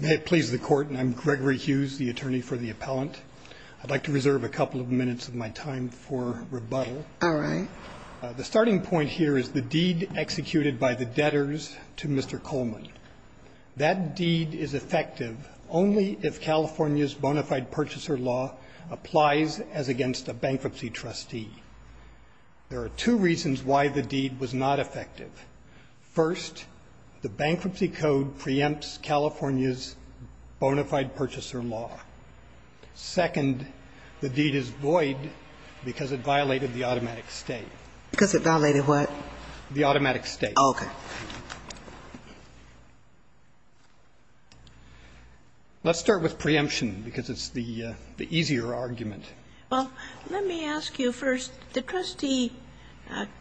May it please the court, and I'm Gregory Hughes, the attorney for the appellant. I'd like to reserve a couple of minutes of my time for rebuttal. The starting point here is the deed executed by the debtors to Mr. Coleman. That deed is effective only if California's bona fide purchaser law applies as against a bankruptcy trustee. There are two reasons why the deed was not effective. First, the bankruptcy code preempts California's bona fide purchaser law. Second, the deed is void because it violated the automatic state. Because it violated what? The automatic state. Okay. Let's start with preemption, because it's the easier argument. Well, let me ask you first, the trustee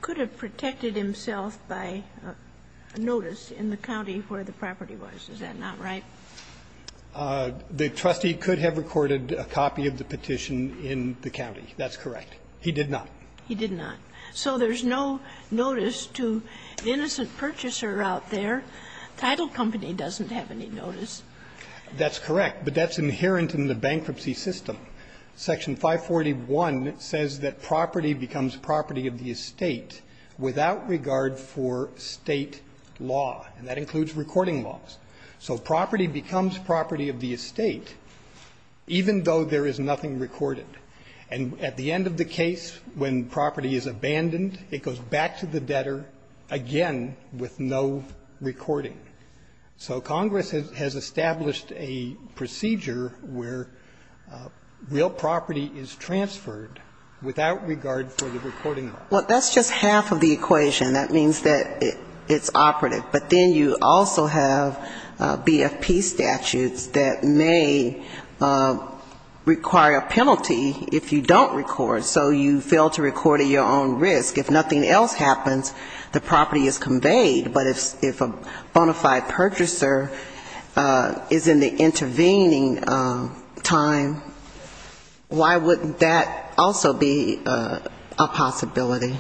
could have protected himself by notice in the county where the property was. Is that not right? The trustee could have recorded a copy of the petition in the county. That's correct. He did not. He did not. So there's no notice to the innocent purchaser out there. Title Company doesn't have any notice. That's correct, but that's inherent in the bankruptcy system. Section 541 says that property becomes property of the estate without regard for state law, and that includes recording laws. So property becomes property of the estate even though there is nothing recorded. And at the end of the case, when property is abandoned, it goes back to the debtor again with no recording. So Congress has established a procedure where real property is transferred without regard for the recording law. Well, that's just half of the equation. That means that it's operative. But then you also have BFP statutes that may require a penalty if you don't record, so you fail to record at your own risk. If nothing else happens, the property is conveyed. But if a bona fide purchaser is in the intervening time, why wouldn't that also be a possibility?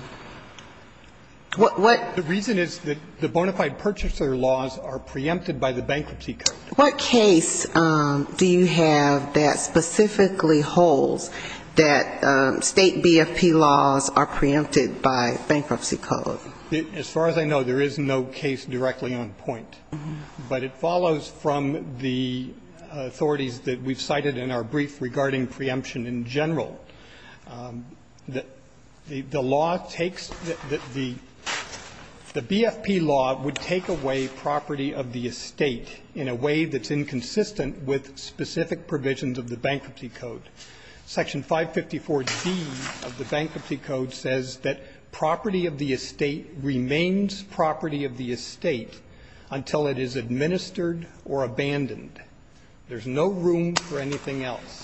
The reason is that the bona fide purchaser laws are preempted by the Bankruptcy Code. What case do you have that specifically holds that State BFP laws are preempted by Bankruptcy Code? As far as I know, there is no case directly on point. But it follows from the authorities that we've cited in our brief regarding preemption in general. The law takes the BFP law would take away property of the estate in a way that's inconsistent with specific provisions of the Bankruptcy Code. Section 554d of the Bankruptcy Code says that property of the estate remains property of the estate until it is administered or abandoned. There's no room for anything else.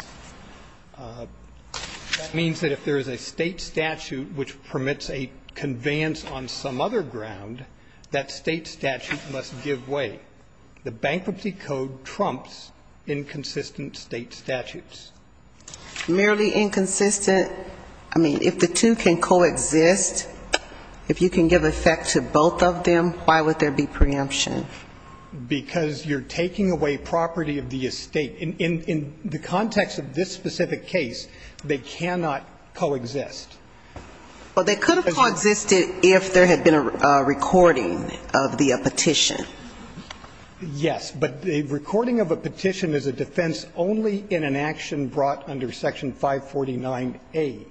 That means that if there is a State statute which permits a conveyance on some other ground, that State statute must give way. The Bankruptcy Code trumps inconsistent State statutes. Merely inconsistent? I mean, if the two can coexist, if you can give effect to both of them, why would there be preemption? Because you're taking away property of the estate. In the context of this specific case, they cannot coexist. Well, they could have coexisted if there had been a recording of the petition. Yes, but a recording of a petition is a defense only in an action brought under Section 549a.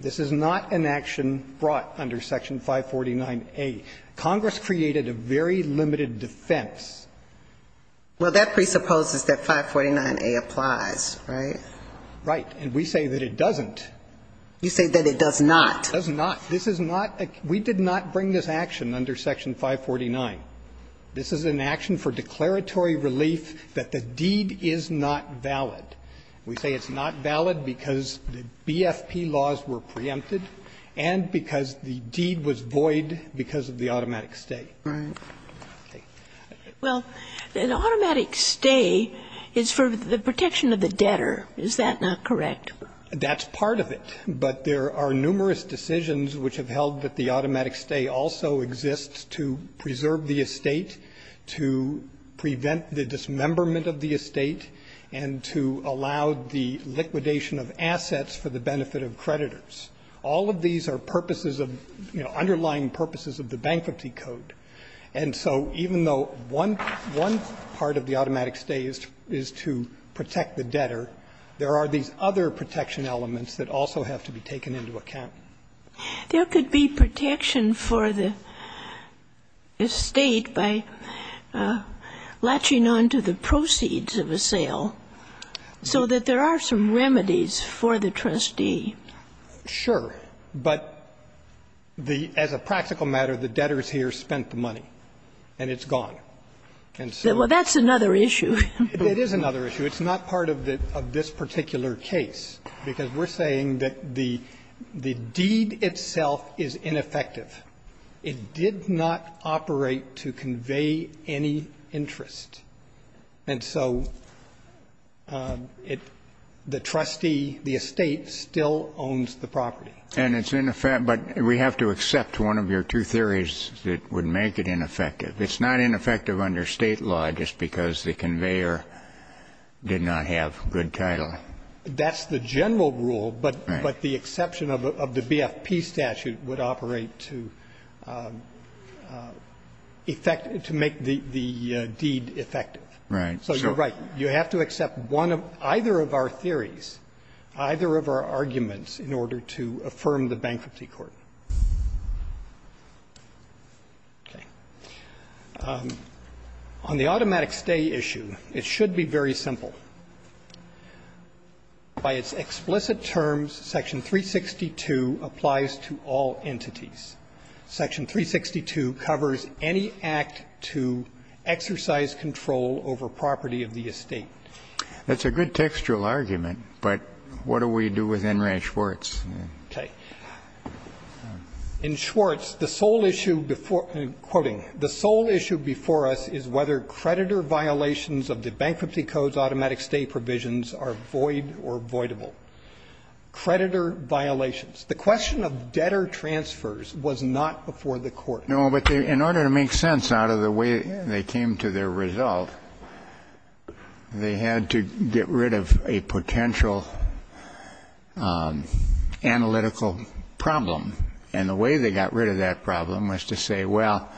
This is not an action brought under Section 549a. Congress created a very limited defense. Well, that presupposes that 549a applies, right? Right. And we say that it doesn't. You say that it does not. It does not. This is not a – we did not bring this action under Section 549. This is an action for declaratory relief that the deed is not valid. We say it's not valid because the BFP laws were preempted and because the deed was void because of the automatic stay. Right. Okay. Well, an automatic stay is for the protection of the debtor. Is that not correct? That's part of it. But there are numerous decisions which have held that the automatic stay also exists to preserve the estate, to prevent the dismemberment of the estate, and to allow the liquidation of assets for the benefit of creditors. All of these are purposes of, you know, underlying purposes of the Bankruptcy Code. And so even though one part of the automatic stay is to protect the debtor, there are these other protection elements that also have to be taken into account. There could be protection for the estate by latching onto the proceeds of a sale so that there are some remedies for the trustee. Sure. But the as a practical matter, the debtors here spent the money and it's gone. And so. Well, that's another issue. It is another issue. It's not part of this particular case, because we're saying that the deed itself is ineffective. It did not operate to convey any interest. And so the trustee, the estate, still owns the property. And it's in effect. But we have to accept one of your two theories that would make it ineffective. It's not ineffective under State law just because the conveyor did not have good title. That's the general rule. Right. But the exception of the BFP statute would operate to effect, to make the deed effective. Right. So you're right. You have to accept one of or either of our theories, either of our arguments in order to affirm the bankruptcy court. Okay. On the automatic stay issue, it should be very simple. By its explicit terms, Section 362 applies to all entities. Section 362 covers any act to exercise control over property of the estate. That's a good textual argument, but what do we do with Enright Schwartz? Okay. In Schwartz, the sole issue before we're quoting, the sole issue before us is whether creditor violations of the Bankruptcy Code's automatic stay provisions are void or voidable. Creditor violations. The question of debtor transfers was not before the Court. No, but in order to make sense out of the way they came to their result, they had to get rid of a potential analytical problem. And the way they got rid of that problem was to say, well,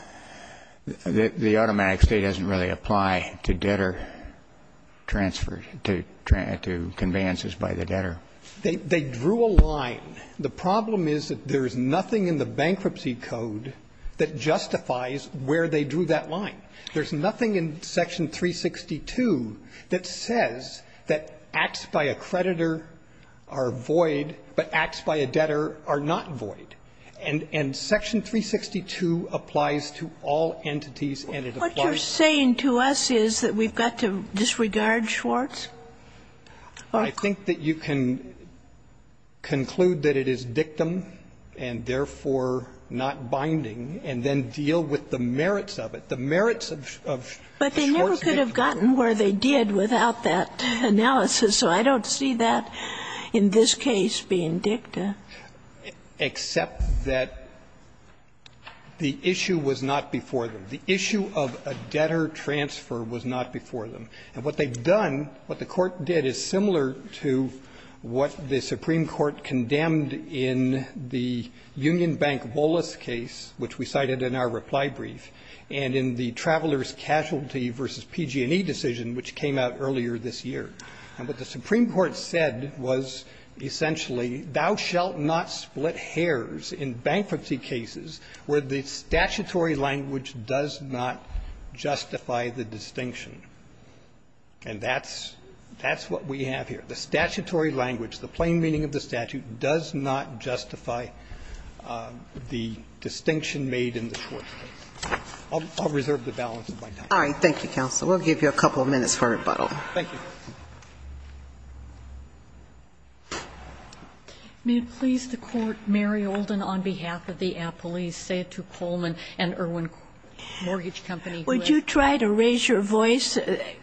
the automatic stay doesn't really apply to debtor transfers, to conveyances by the debtor. They drew a line. The problem is that there is nothing in the Bankruptcy Code that justifies where they drew that line. There's nothing in Section 362 that says that acts by a creditor are void, but acts by a debtor are not void. And Section 362 applies to all entities, and it applies to all entities. What you're saying to us is that we've got to disregard Schwartz? I think that you can conclude that it is dictum and, therefore, not binding, and then deal with the merits of it, the merits of Schwartz dictum. But they never could have gotten where they did without that analysis, so I don't see that in this case being dicta. Except that the issue was not before them. The issue of a debtor transfer was not before them. And what they've done, what the Court did is similar to what the Supreme Court condemned in the Union Bank Wallace case, which we cited in our reply brief, and in the Travelers' Casualty v. PG&E decision, which came out earlier this year. And what the Supreme Court said was, essentially, thou shalt not split hairs in bankruptcy cases where the statutory language does not justify the distinction. And that's what we have here. The statutory language, the plain meaning of the statute, does not justify the distinction made in the Schwartz case. I'll reserve the balance of my time. All right. Thank you, counsel. We'll give you a couple of minutes for rebuttal. Thank you. May it please the Court, Mary Olden, on behalf of the appellees, say it to Coleman and Irwin Mortgage Company. Would you try to raise your voice?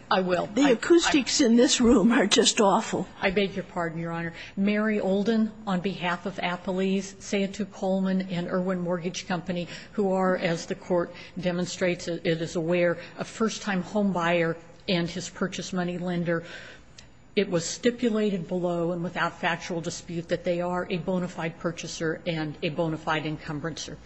I will. The acoustics in this room are just awful. I beg your pardon, Your Honor. Mary Olden, on behalf of appellees, say it to Coleman and Irwin Mortgage Company, who are, as the Court demonstrates, it is aware, a first-time homebuyer and his purchase money lender. It was stipulated below and without factual dispute that they are a bona fide purchaser and a bona fide encumbrancer.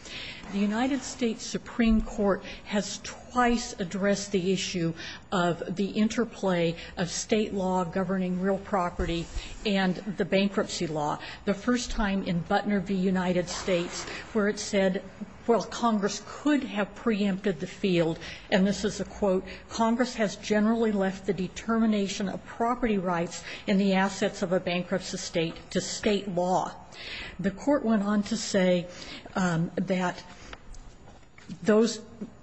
The United States Supreme Court has twice addressed the issue of the interplay of State law governing real property and the bankruptcy law. The first time in Butner v. United States, where it said, well, Congress could have preempted the field, and this is a quote, Congress has generally left the determination of property rights and the assets of a bankrupt estate to State law. The Court went on to say that those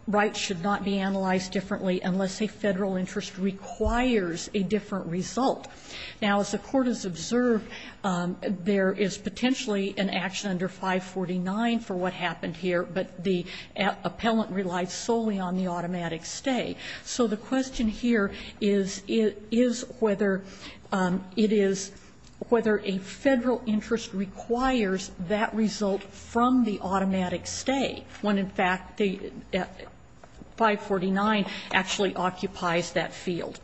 rights should not be analyzed differently unless a Federal interest requires a different result. Now, as the Court has observed, there is potentially an action under 549 for what happened here, but the appellant relied solely on the automatic stay. So the question here is, is whether it is, whether a Federal interest requires that result from the automatic stay, when in fact 549 actually occupies that field.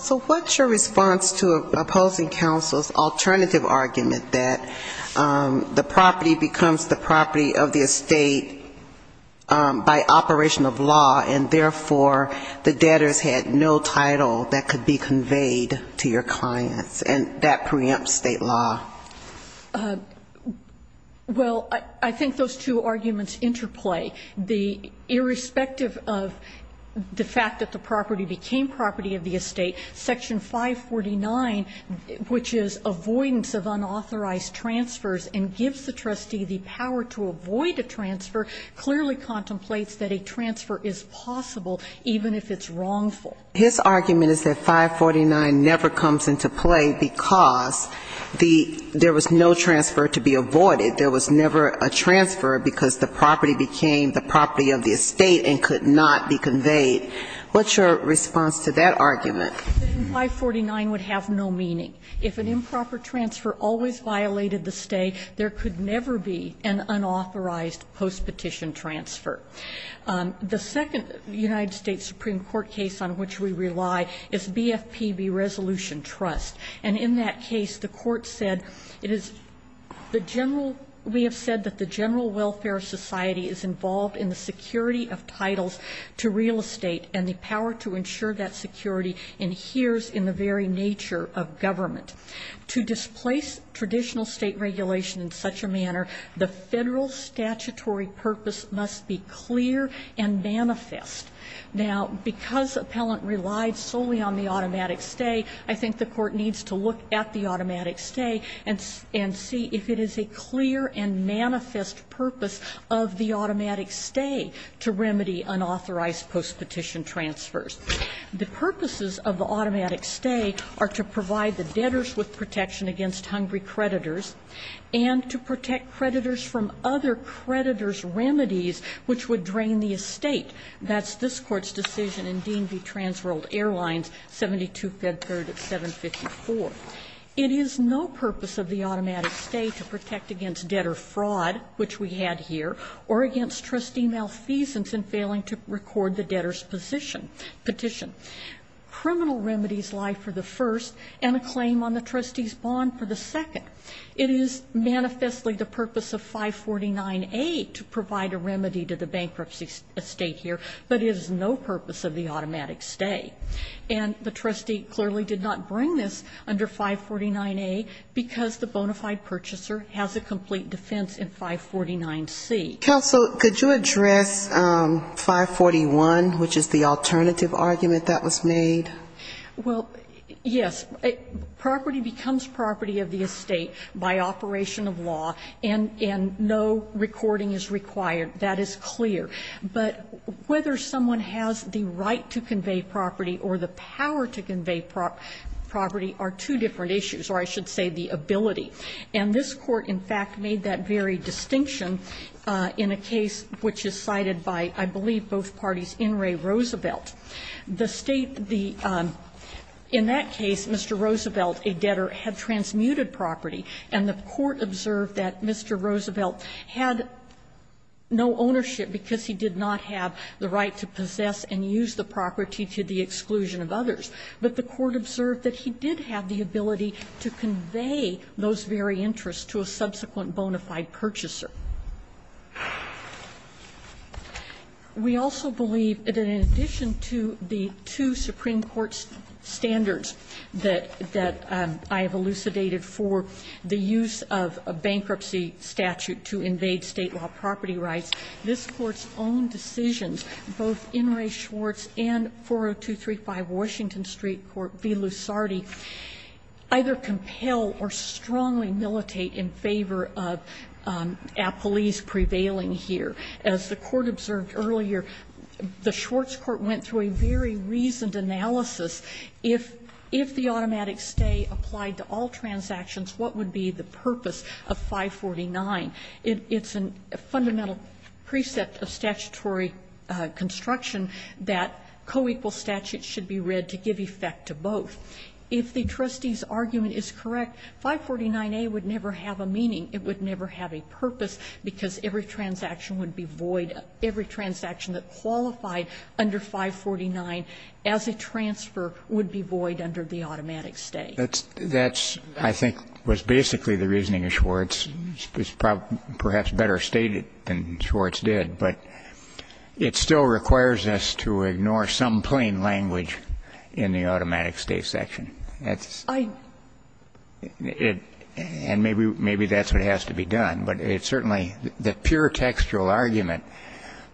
So what's your response to opposing counsel's alternative argument that the property becomes the property of the estate by operation of law, and therefore, the property of the estate, or the debtors had no title that could be conveyed to your clients, and that preempts State law? Well, I think those two arguments interplay. The, irrespective of the fact that the property became property of the estate, section 549, which is avoidance of unauthorized transfers and gives the trustee the power to avoid a transfer, clearly contemplates that a transfer is possible even if it's wrongful. His argument is that 549 never comes into play because the, there was no transfer to be avoided. There was never a transfer because the property became the property of the estate and could not be conveyed. What's your response to that argument? 549 would have no meaning. If an improper transfer always violated the stay, there could never be an unauthorized postpetition transfer. The second United States Supreme Court case on which we rely is BFPB Resolution Trust, and in that case, the Court said it is the general, we have said that the general welfare society is involved in the security of titles to real estate and the power to ensure that security adheres in the very nature of government. To displace traditional State regulation in such a manner, the Federal statutory purpose must be clear and manifest. Now, because appellant relied solely on the automatic stay, I think the Court needs to look at the automatic stay and see if it is a clear and manifest purpose of the automatic stay to remedy unauthorized postpetition transfers. The purposes of the automatic stay are to provide the debtors with protection against hungry creditors, and to protect creditors from other creditors' remedies which would drain the estate. That's this Court's decision in DMV Transworld Airlines, 72 Fed Third at 754. It is no purpose of the automatic stay to protect against debtor fraud, which we had here, or against trustee malfeasance in failing to record the debtor's petition. Criminal remedies lie for the first, and a claim on the trustee's bond for the second. It is manifestly the purpose of 549A to provide a remedy to the bankruptcy estate here, but it is no purpose of the automatic stay. And the trustee clearly did not bring this under 549A because the bona fide purchaser has a complete defense in 549C. Counsel, could you address 541, which is the alternative argument that was made? Well, yes. Property becomes property of the estate by operation of law, and no recording is required. That is clear. But whether someone has the right to convey property or the power to convey property are two different issues, or I should say the ability. And this Court, in fact, made that very distinction in a case which is cited by, I believe, both parties, In re Roosevelt. The State, the, in that case, Mr. Roosevelt, a debtor, had transmuted property, and the Court observed that Mr. Roosevelt had no ownership because he did not have the right to possess and use the property to the exclusion of others. But the Court observed that he did have the ability to convey those very interests to a subsequent bona fide purchaser. We also believe that in addition to the two Supreme Court's standards that I have elucidated for the use of a bankruptcy statute to invade state law property rights, this Court's own decisions, both In re Schwartz and 40235 Washington Street Court v. Lusardi, either compel or strongly militate in favor of appellees prevailing here. As the Court observed earlier, the Schwartz Court went through a very reasoned analysis, if the automatic stay applied to all transactions, what would be the purpose of 549? It's a fundamental precept of statutory construction that co-equal statutes should be read to give effect to both. If the trustee's argument is correct, 549A would never have a meaning. It would never have a purpose because every transaction would be void. Every transaction that qualified under 549 as a transfer would be void under the automatic stay. That's, I think, was basically the reasoning of Schwartz. It's perhaps better stated than Schwartz did, but it still requires us to ignore some plain language in the automatic stay section. And maybe that's what has to be done, but it certainly, the pure textual argument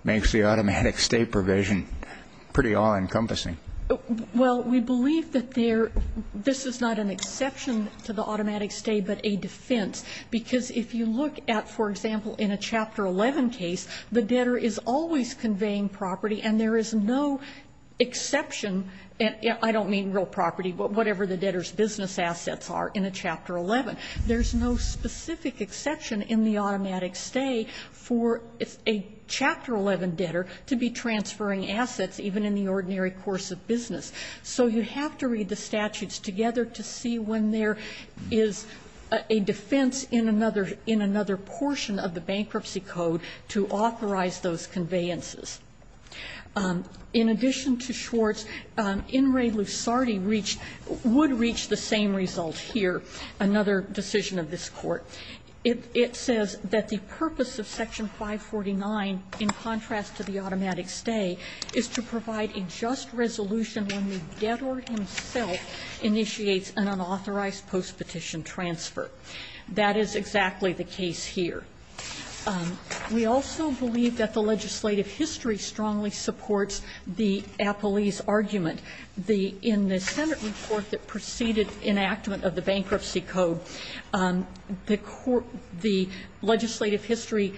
makes the automatic stay provision pretty all-encompassing. Well, we believe that this is not an exception to the automatic stay, but a defense because if you look at, for example, in a Chapter 11 case, the debtor is always exception, and I don't mean real property, but whatever the debtor's business assets are in a Chapter 11. There's no specific exception in the automatic stay for a Chapter 11 debtor to be transferring assets even in the ordinary course of business. So you have to read the statutes together to see when there is a defense in another portion of the bankruptcy code to authorize those conveyances. In addition to Schwartz, In re Lucardi would reach the same result here, another decision of this Court. It says that the purpose of Section 549, in contrast to the automatic stay, is to provide a just resolution when the debtor himself initiates an unauthorized postpetition transfer. That is exactly the case here. We also believe that the legislative history strongly supports the appellee's argument. In the Senate report that preceded enactment of the bankruptcy code, the legislative history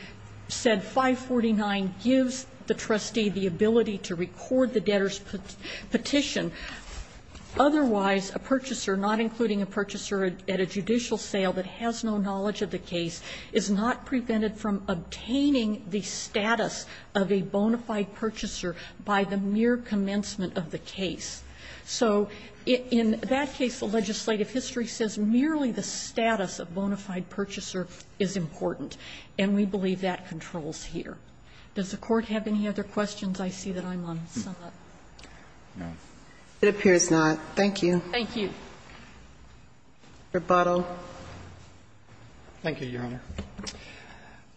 said 549 gives the trustee the ability to record the debtor's petition. Otherwise, a purchaser, not including a purchaser at a judicial sale that has no benefit from obtaining the status of a bona fide purchaser by the mere commencement of the case. So in that case, the legislative history says merely the status of bona fide purchaser is important. And we believe that controls here. Does the Court have any other questions? I see that I'm on sum up. No. It appears not. Thank you. Thank you. Rebuttal. Thank you, Your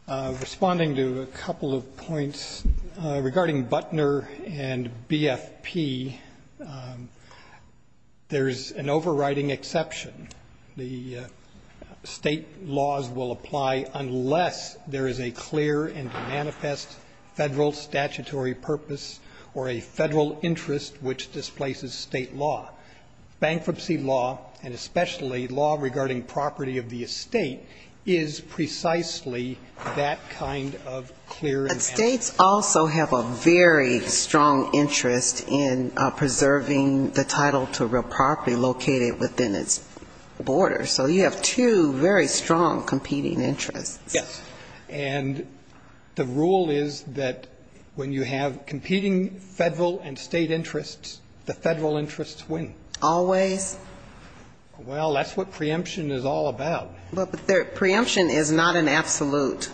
Honor. Responding to a couple of points. Regarding Butner and BFP, there is an overriding exception. The State laws will apply unless there is a clear and manifest Federal statutory purpose or a Federal interest which displaces State law. Bankruptcy law, and especially law regarding property of the estate, is precisely that kind of clear and manifest. But States also have a very strong interest in preserving the title to real property located within its borders. So you have two very strong competing interests. Yes. And the rule is that when you have competing Federal and State interests, the Federal interests win. Always? Well, that's what preemption is all about. But preemption is not an absolute.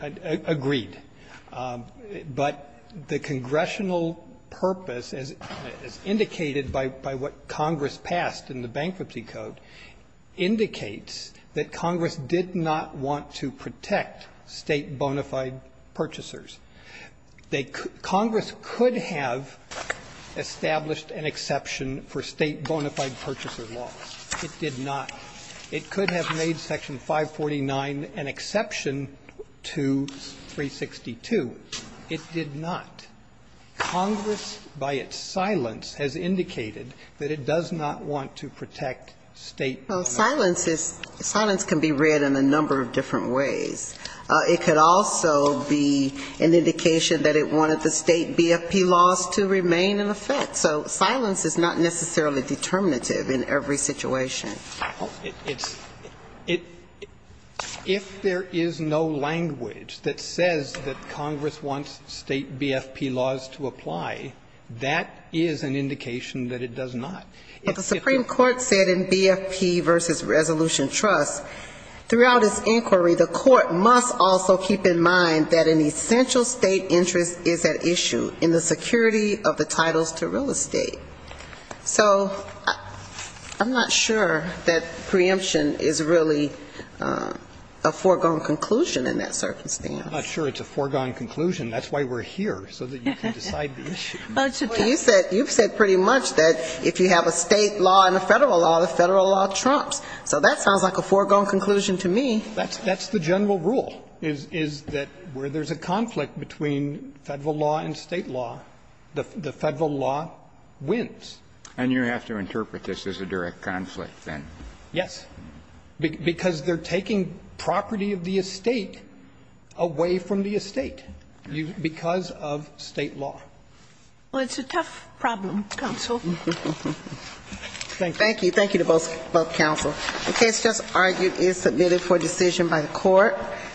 Agreed. But the congressional purpose, as indicated by what Congress passed in the Bankruptcy Code, indicates that Congress did not want to protect State bona fide purchasers. Congress could have established an exception for State bona fide purchaser laws. It did not. It could have made Section 549 an exception to 362. It did not. Congress, by its silence, has indicated that it does not want to protect State bona fide purchasers. Well, silence can be read in a number of different ways. It could also be an indication that it wanted the State BFP laws to remain in effect. So silence is not necessarily determinative in every situation. It's – if there is no language that says that Congress wants State BFP laws to apply, that is an indication that it does not. But the Supreme Court said in BFP v. Resolution Trust, throughout its inquiry, the Court must also keep in mind that an essential State interest is at issue in the security of the titles to real estate. So I'm not sure that preemption is really a foregone conclusion in that circumstance. I'm not sure it's a foregone conclusion. That's why we're here, so that you can decide the issue. You've said pretty much that if you have a State law and a Federal law, the Federal law trumps. So that sounds like a foregone conclusion to me. That's the general rule, is that where there's a conflict between Federal law and State law, the Federal law wins. And you have to interpret this as a direct conflict, then. Yes. Because they're taking property of the estate away from the estate because of State law. Well, it's a tough problem, Counsel. Thank you. Thank you. Thank you to both Counsel. The case just argued is submitted for decision by the Court.